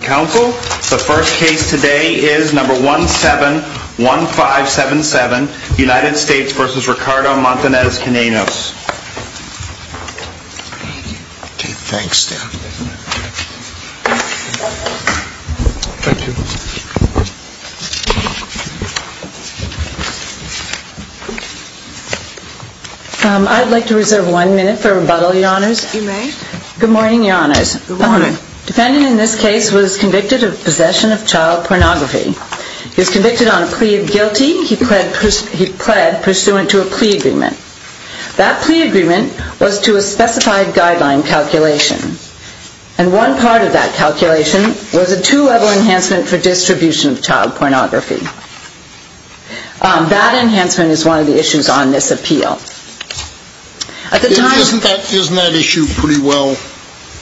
Council, the first case today is number 171577, United States v. Ricardo Montanez-Quinones. Okay, thanks, Dan. Thank you. I'd like to reserve one minute for rebuttal, Your Honors. You may. Good morning, Your Honors. Good morning. A defendant in this case was convicted of possession of child pornography. He was convicted on a plea of guilty. He pled pursuant to a plea agreement. That plea agreement was to a specified guideline calculation, and one part of that calculation was a two-level enhancement for distribution of child pornography. That enhancement is one of the issues on this appeal. Isn't that issue pretty well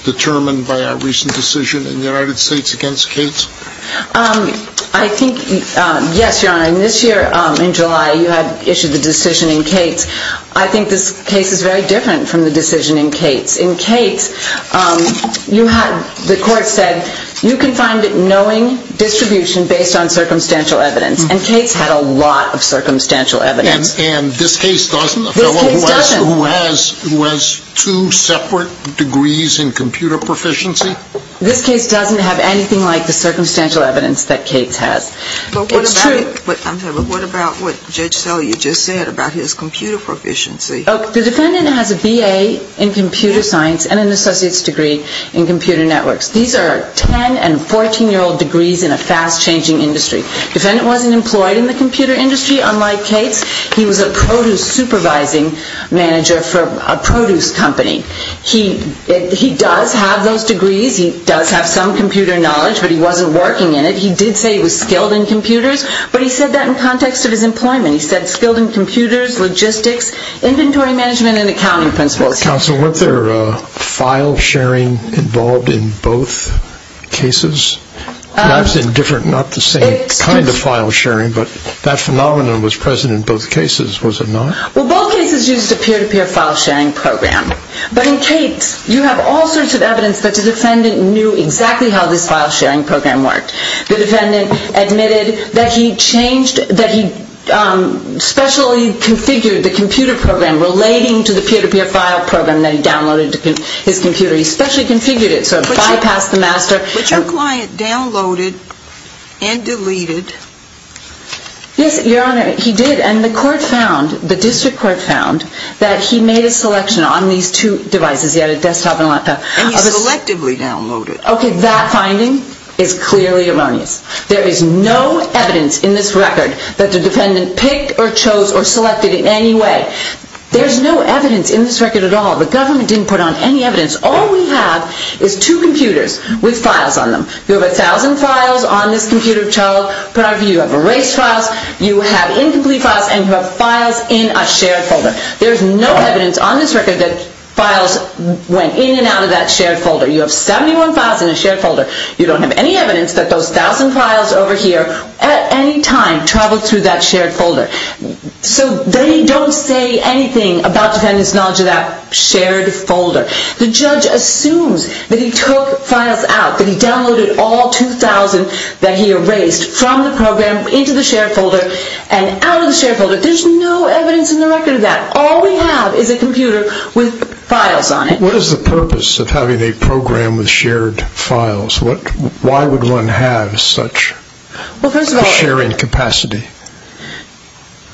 determined by our recent decision in the United States against Cates? Yes, Your Honor, and this year in July you had issued the decision in Cates. I think this case is very different from the decision in Cates. In Cates, the court said you can find it knowing distribution based on circumstantial evidence, and Cates had a lot of circumstantial evidence. And this case doesn't? This case doesn't. A fellow who has two separate degrees in computer proficiency? This case doesn't have anything like the circumstantial evidence that Cates has. It's true. But what about what Judge Sellier just said about his computer proficiency? The defendant has a B.A. in computer science and an associate's degree in computer networks. These are 10- and 14-year-old degrees in a fast-changing industry. The defendant wasn't employed in the computer industry, unlike Cates. He was a produce supervising manager for a produce company. He does have those degrees. He does have some computer knowledge, but he wasn't working in it. He did say he was skilled in computers, but he said that in context of his employment. He said skilled in computers, logistics, inventory management, and accounting principles. Counsel, weren't there file sharing involved in both cases? I was indifferent. Not the same kind of file sharing, but that phenomenon was present in both cases, was it not? Well, both cases used a peer-to-peer file sharing program. But in Cates, you have all sorts of evidence that the defendant knew exactly how this file sharing program worked. The defendant admitted that he changed, that he specially configured the computer program relating to the peer-to-peer file program that he downloaded to his computer. He specially configured it so it bypassed the master. But your client downloaded and deleted. Yes, Your Honor, he did. And the court found, the district court found, that he made a selection on these two devices. He had a desktop and a laptop. And he selectively downloaded. Okay, that finding is clearly erroneous. There is no evidence in this record that the defendant picked or chose or selected in any way. There's no evidence in this record at all. The government didn't put on any evidence. All we have is two computers with files on them. You have 1,000 files on this computer of child pornography. You have erased files. You have incomplete files. And you have files in a shared folder. There's no evidence on this record that files went in and out of that shared folder. You have 71 files in a shared folder. You don't have any evidence that those 1,000 files over here at any time traveled through that shared folder. So they don't say anything about the defendant's knowledge of that shared folder. The judge assumes that he took files out, that he downloaded all 2,000 that he erased from the program into the shared folder and out of the shared folder. There's no evidence in the record of that. All we have is a computer with files on it. What is the purpose of having a program with shared files? Why would one have such a sharing capacity?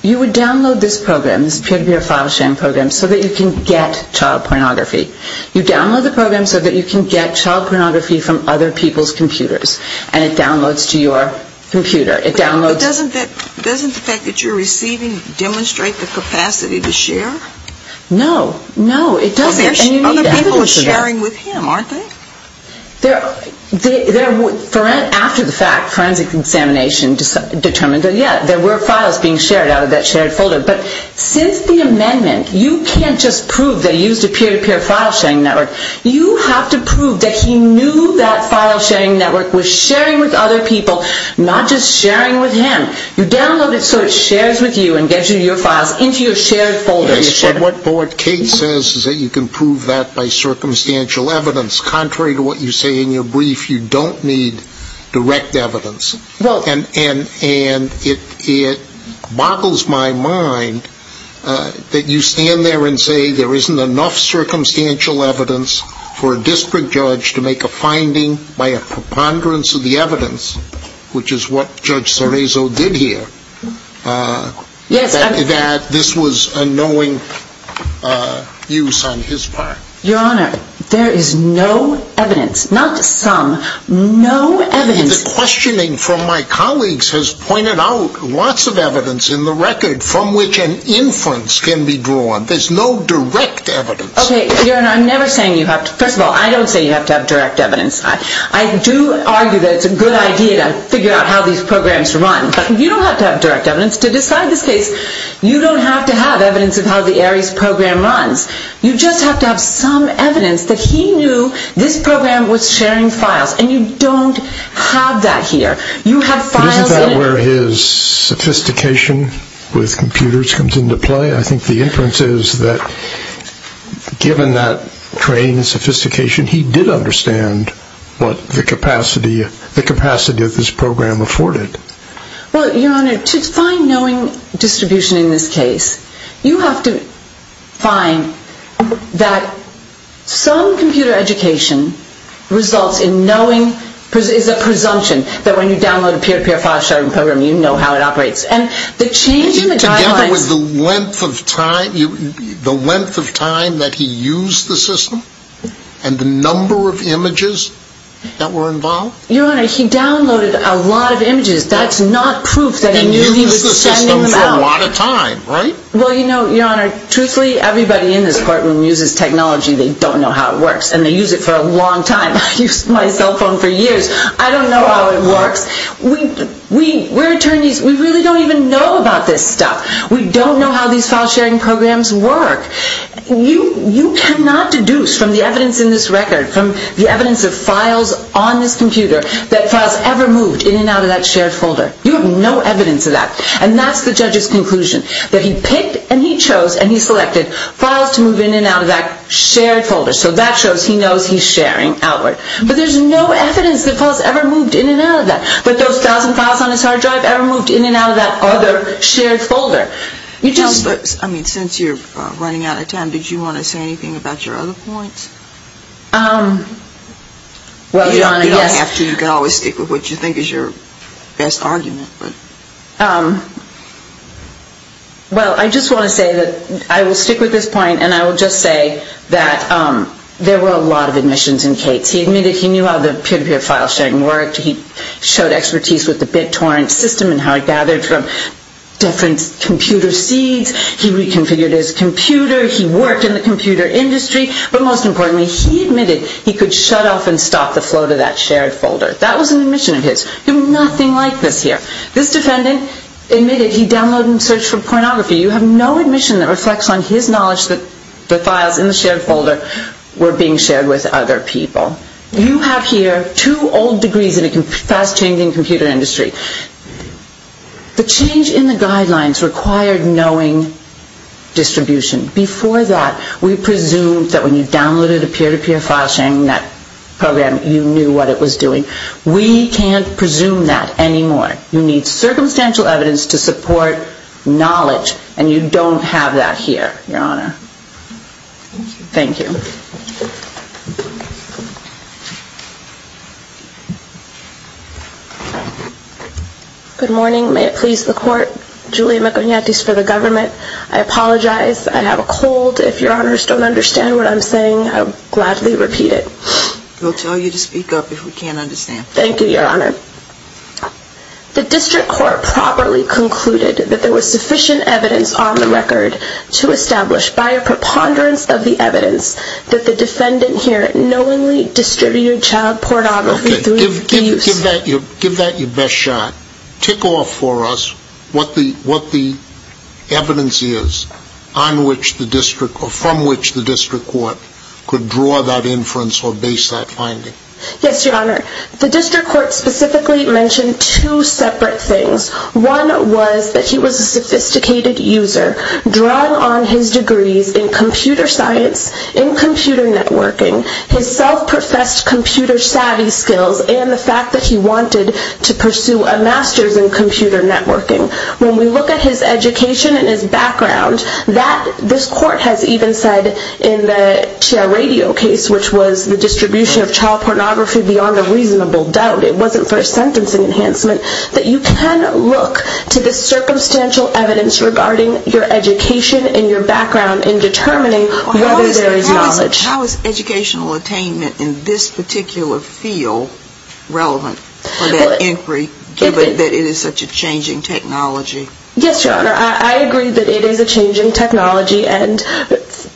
You would download this program, this peer-to-peer file sharing program, so that you can get child pornography. You download the program so that you can get child pornography from other people's computers. And it downloads to your computer. But doesn't the fact that you're receiving demonstrate the capacity to share? No, no, it doesn't. Other people are sharing with him, aren't they? After the fact, forensic examination determined that, yeah, there were files being shared out of that shared folder. But since the amendment, you can't just prove that he used a peer-to-peer file sharing network. You have to prove that he knew that file sharing network was sharing with other people, not just sharing with him. You download it so it shares with you and gives you your files into your shared folder. What Kate says is that you can prove that by circumstantial evidence. Contrary to what you say in your brief, you don't need direct evidence. And it boggles my mind that you stand there and say there isn't enough circumstantial evidence for a district judge to make a finding by a preponderance of the evidence, which is what Judge Cerezo did here, that this was a knowing use on his part. Your Honor, there is no evidence, not some, no evidence. The questioning from my colleagues has pointed out lots of evidence in the record from which an inference can be drawn. There's no direct evidence. Okay, Your Honor, I'm never saying you have to. First of all, I don't say you have to have direct evidence. I do argue that it's a good idea to figure out how these programs run. But you don't have to have direct evidence to decide this case. You don't have to have evidence of how the ARIES program runs. You just have to have some evidence that he knew this program was sharing files. And you don't have that here. You have files in it. But isn't that where his sophistication with computers comes into play? I think the inference is that given that trained sophistication, he did understand what the capacity of this program afforded. Well, Your Honor, to find knowing distribution in this case, you have to find that some computer education results in knowing, is a presumption that when you download a peer-to-peer file sharing program, you know how it operates. Is it together with the length of time that he used the system and the number of images that were involved? Your Honor, he downloaded a lot of images. That's not proof that he knew he was sending them out. He used the system for a lot of time, right? Well, you know, Your Honor, truthfully, everybody in this courtroom uses technology. They don't know how it works, and they use it for a long time. I used my cell phone for years. I don't know how it works. We're attorneys. We really don't even know about this stuff. We don't know how these file sharing programs work. You cannot deduce from the evidence in this record, from the evidence of files on this computer, that files ever moved in and out of that shared folder. You have no evidence of that. And that's the judge's conclusion, that he picked and he chose and he selected files to move in and out of that shared folder, so that shows he knows he's sharing outward. But there's no evidence that files ever moved in and out of that. But those thousand files on his hard drive ever moved in and out of that other shared folder. I mean, since you're running out of time, did you want to say anything about your other points? Well, Your Honor, yes. You don't have to. You can always stick with what you think is your best argument. Well, I just want to say that I will stick with this point, and I will just say that there were a lot of admissions in Kate's. He admitted he knew how the peer-to-peer file sharing worked. He showed expertise with the BitTorrent system and how it gathered from different computer seeds. He reconfigured his computer. He worked in the computer industry. But most importantly, he admitted he could shut off and stop the flow to that shared folder. That was an admission of his. Nothing like this here. This defendant admitted he downloaded and searched for pornography. You have no admission that reflects on his knowledge that the files in the shared folder were being shared with other people. You have here two old degrees in a fast-changing computer industry. The change in the guidelines required knowing distribution. Before that, we presumed that when you downloaded a peer-to-peer file sharing program, you knew what it was doing. We can't presume that anymore. You need circumstantial evidence to support knowledge, and you don't have that here, Your Honor. Thank you. Good morning. May it please the Court. Julia McIgnatis for the government. I apologize. I have a cold. If Your Honors don't understand what I'm saying, I'll gladly repeat it. We'll tell you to speak up if we can't understand. Thank you, Your Honor. The district court properly concluded that there was sufficient evidence on the record to establish by a preponderance of the evidence that the defendant here knowingly distributed child pornography through abuse. Give that your best shot. Tick off for us what the evidence is from which the district court could draw that inference or base that finding. Yes, Your Honor. The district court specifically mentioned two separate things. One was that he was a sophisticated user, drawing on his degrees in computer science, in computer networking, his self-professed computer savvy skills, and the fact that he wanted to pursue a master's in computer networking. When we look at his education and his background, this court has even said in the TR Radio case, which was the distribution of child pornography beyond a reasonable doubt, it wasn't for a sentencing enhancement, that you can look to the circumstantial evidence regarding your education and your background in determining whether there is knowledge. How is educational attainment in this particular field relevant for that inquiry, given that it is such a changing technology? Yes, Your Honor. I agree that it is a changing technology, and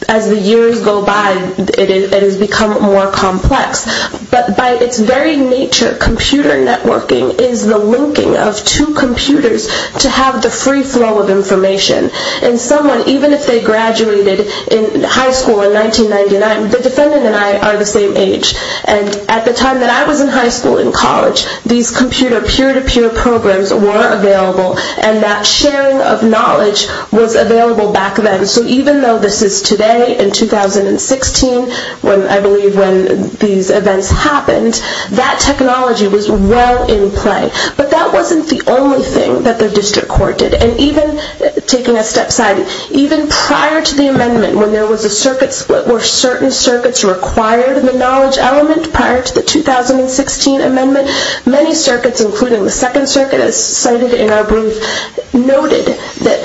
as the years go by, it has become more complex. But by its very nature, computer networking is the linking of two computers to have the free flow of information. And someone, even if they graduated in high school in 1999, the defendant and I are the same age, and at the time that I was in high school and college, these computer peer-to-peer programs were available, and that sharing of knowledge was available back then. So even though this is today, in 2016, I believe when these events happened, that technology was well in play. But that wasn't the only thing that the district court did. And even, taking a step side, even prior to the amendment, when there was a circuit split, where certain circuits required the knowledge element prior to the 2016 amendment, many circuits, including the Second Circuit, as cited in our brief, noted that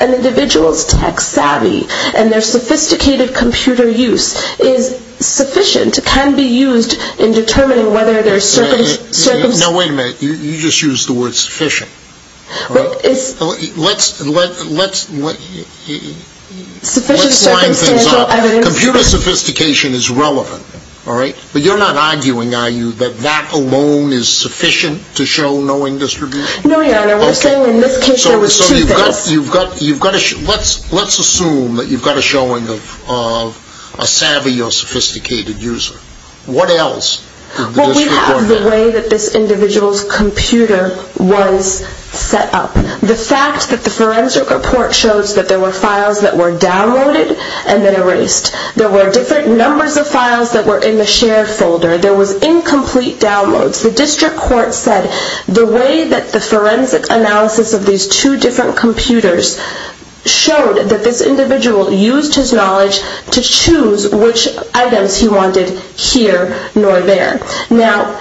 an individual's tech savvy and their sophisticated computer use is sufficient, can be used in determining whether their circuits... Now, wait a minute. You just used the word sufficient. Let's line things up. Computer sophistication is relevant. But you're not arguing, are you, that that alone is sufficient to show knowing distribution? No, Your Honor. We're saying in this case there was two things. So let's assume that you've got a showing of a savvy or sophisticated user. What else did the district court do? Well, we have the way that this individual's computer was set up. The fact that the forensic report shows that there were files that were downloaded and then erased. There were different numbers of files that were in the shared folder. There was incomplete downloads. The district court said the way that the forensic analysis of these two different computers showed that this individual used his knowledge to choose which items he wanted here nor there. Now,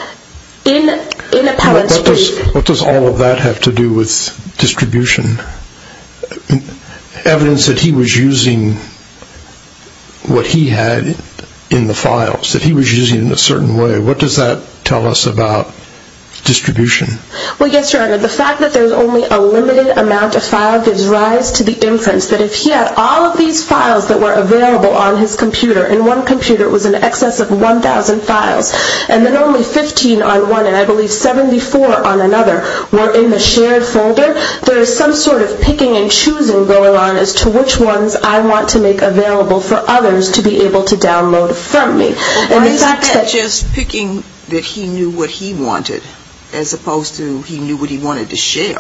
in a public speech... What does all of that have to do with distribution? Evidence that he was using what he had in the files, that he was using it in a certain way. What does that tell us about distribution? Well, yes, Your Honor. The fact that there's only a limited amount of files gives rise to the inference that if he had all of these files that were available on his computer, in one computer it was in excess of 1,000 files, and then only 15 on one and I believe 74 on another were in the shared folder, there is some sort of picking and choosing going on as to which ones I want to make available for others to be able to download from me. Isn't that just picking that he knew what he wanted as opposed to he knew what he wanted to share?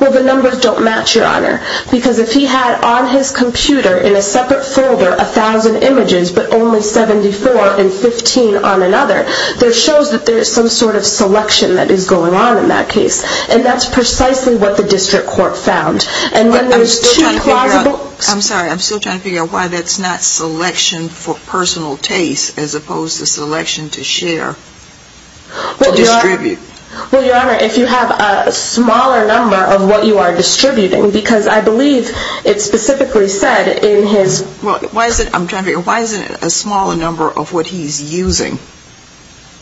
Well, the numbers don't match, Your Honor, because if he had on his computer in a separate folder 1,000 images but only 74 and 15 on another, that shows that there is some sort of selection that is going on in that case and that's precisely what the district court found. I'm sorry, I'm still trying to figure out why that's not selection for personal taste as opposed to selection to share, to distribute. Well, Your Honor, if you have a smaller number of what you are distributing, because I believe it's specifically said in his... I'm trying to figure out why isn't it a smaller number of what he's using?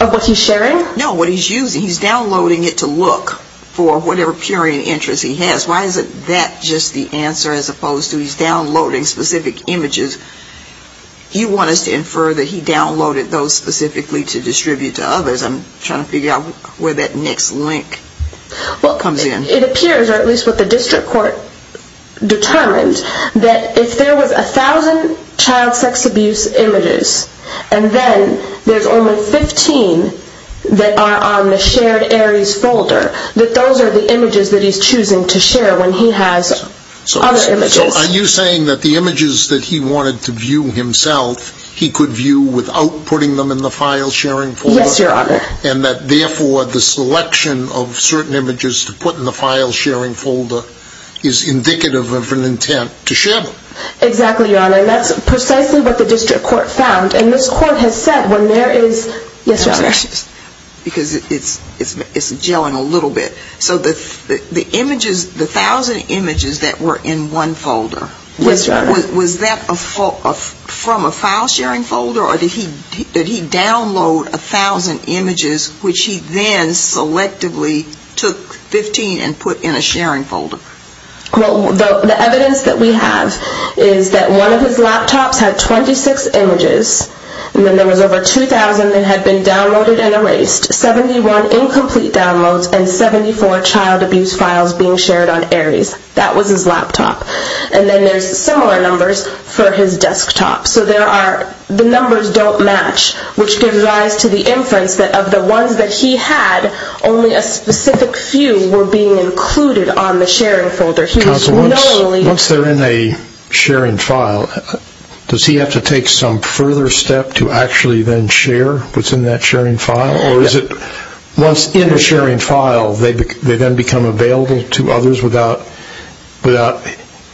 Of what he's sharing? No, what he's using. He's downloading it to look for whatever period of interest he has. Why isn't that just the answer as opposed to he's downloading specific images? You want us to infer that he downloaded those specifically to distribute to others. I'm trying to figure out where that next link comes in. Well, it appears, or at least what the district court determined, that if there was 1,000 child sex abuse images and then there's only 15 that are on the shared ARIES folder, that those are the images that he's choosing to share when he has other images. So are you saying that the images that he wanted to view himself, he could view without putting them in the file-sharing folder? Yes, Your Honor. And that, therefore, the selection of certain images to put in the file-sharing folder is indicative of an intent to share them? Exactly, Your Honor, and that's precisely what the district court found. And this court has said when there is... Yes, Your Honor. Because it's gelling a little bit. So the images, the 1,000 images that were in one folder... Yes, Your Honor. Was that from a file-sharing folder or did he download 1,000 images which he then selectively took 15 and put in a sharing folder? Well, the evidence that we have is that one of his laptops had 26 images and then there was over 2,000 that had been downloaded and erased, 71 incomplete downloads, and 74 child abuse files being shared on ARIES. That was his laptop. And then there's similar numbers for his desktop. So the numbers don't match, which gives rise to the inference that of the ones that he had, only a specific few were being included on the sharing folder. Counsel, once they're in a sharing file, does he have to take some further step to actually then share what's in that sharing file? Or is it once in a sharing file, they then become available to others without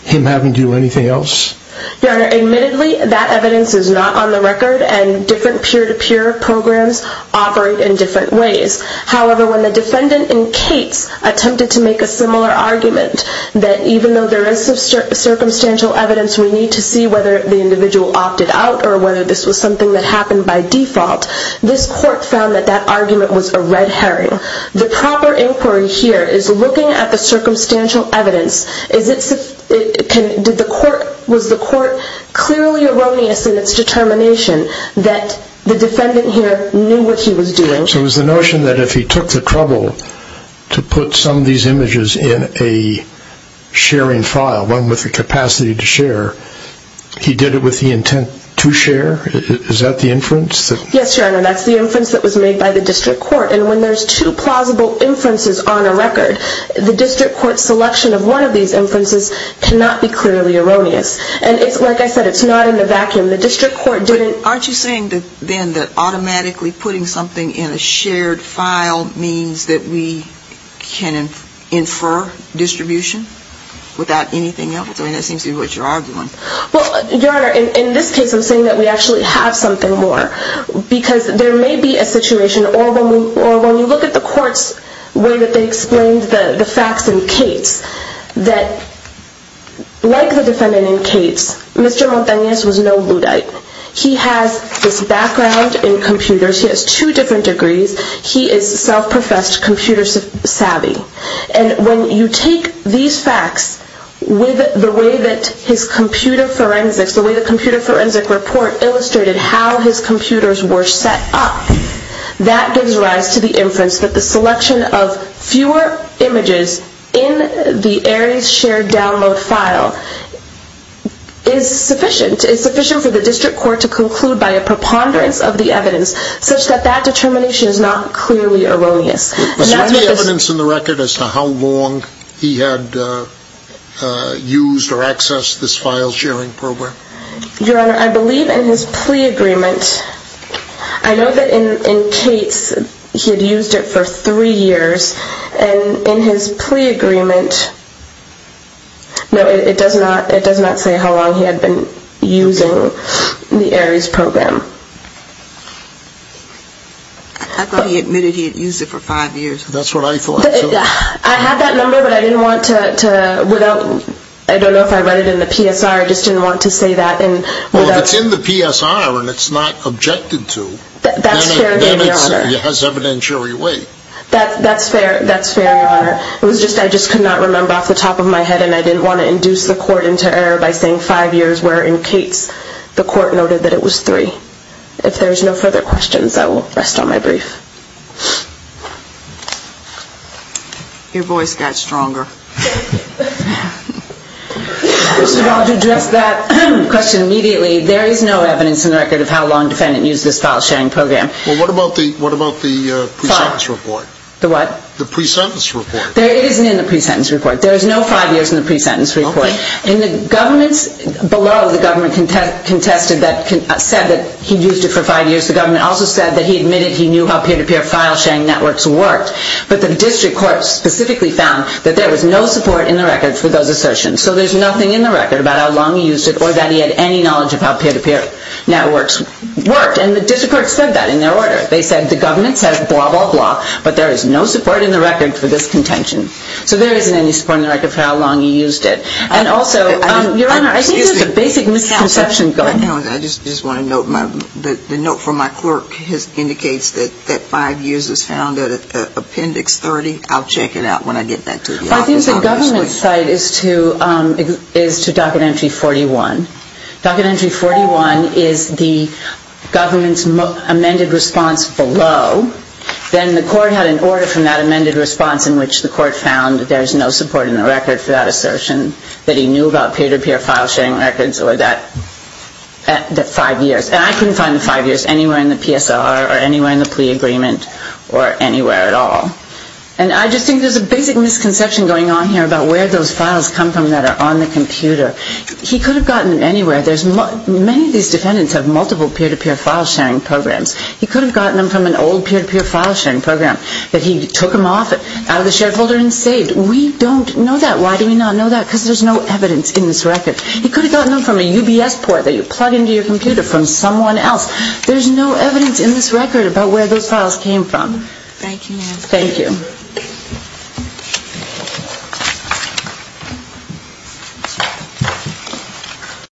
him having to do anything else? Your Honor, admittedly, that evidence is not on the record and different peer-to-peer programs operate in different ways. However, when the defendant in Cates attempted to make a similar argument that even though there is some circumstantial evidence, we need to see whether the individual opted out or whether this was something that happened by default, this court found that that argument was a red herring. The proper inquiry here is looking at the circumstantial evidence. Was the court clearly erroneous in its determination that the defendant here knew what he was doing? So it was the notion that if he took the trouble to put some of these images in a sharing file, one with the capacity to share, he did it with the intent to share? Is that the inference? Yes, Your Honor, that's the inference that was made by the district court. And when there's two plausible inferences on a record, the district court's selection of one of these inferences cannot be clearly erroneous. And like I said, it's not in the vacuum. But aren't you saying then that automatically putting something in a shared file means that we can infer distribution without anything else? I mean, that seems to be what you're arguing. Well, Your Honor, in this case I'm saying that we actually have something more because there may be a situation, or when you look at the court's way that they explained the facts in Cates, that like the defendant in Cates, Mr. Montaignez was no Luddite. He has this background in computers. He has two different degrees. He is self-professed computer savvy. And when you take these facts with the way that his computer forensics, the way the computer forensic report illustrated how his computers were set up, that gives rise to the inference that the selection of fewer images in the Aries shared download file is sufficient for the district court to conclude by a preponderance of the evidence such that that determination is not clearly erroneous. Was there any evidence in the record as to how long he had used or accessed this file sharing program? Your Honor, I believe in his plea agreement. I know that in Cates he had used it for three years. And in his plea agreement, no, it does not say how long he had been using the Aries program. I thought he admitted he had used it for five years. That's what I thought, too. I had that number, but I didn't want to, without, I don't know if I read it in the PSR, I just didn't want to say that. Well, if it's in the PSR and it's not objected to, then it has evidentiary weight. That's fair, Your Honor. It was just, I just could not remember off the top of my head, and I didn't want to induce the court into error by saying five years, where in Cates the court noted that it was three. If there's no further questions, I will rest on my brief. Your voice got stronger. First of all, to address that question immediately, there is no evidence in the record of how long the defendant used this file-sharing program. Well, what about the pre-sentence report? The what? The pre-sentence report. It isn't in the pre-sentence report. There is no five years in the pre-sentence report. Okay. In the governments below, the government contested that, said that he used it for five years. The government also said that he admitted he knew how peer-to-peer file-sharing networks worked. But the district court specifically found that there was no support in the record for those assertions. So there's nothing in the record about how long he used it or that he had any knowledge of how peer-to-peer networks worked. And the district court said that in their order. They said the government said blah, blah, blah, but there is no support in the record for this contention. So there isn't any support in the record for how long he used it. And also, Your Honor, I think there's a basic misconception going on. I just want to note that the note from my clerk indicates that five years is found in Appendix 30. I'll check it out when I get back to the office. I think the government's side is to Docket Entry 41. Docket Entry 41 is the government's amended response below. Then the court had an order from that amended response in which the court found there's no support in the record for that assertion, that he knew about peer-to-peer file-sharing records or that five years. And I couldn't find the five years anywhere in the PSLR or anywhere in the plea agreement or anywhere at all. And I just think there's a basic misconception going on here about where those files come from that are on the computer. He could have gotten them anywhere. Many of these defendants have multiple peer-to-peer file-sharing programs. He could have gotten them from an old peer-to-peer file-sharing program that he took them off out of the shared folder and saved. We don't know that. Why do we not know that? Because there's no evidence in this record. He could have gotten them from a UBS port that you plug into your computer from someone else. There's no evidence in this record about where those files came from. Thank you, ma'am. Thank you.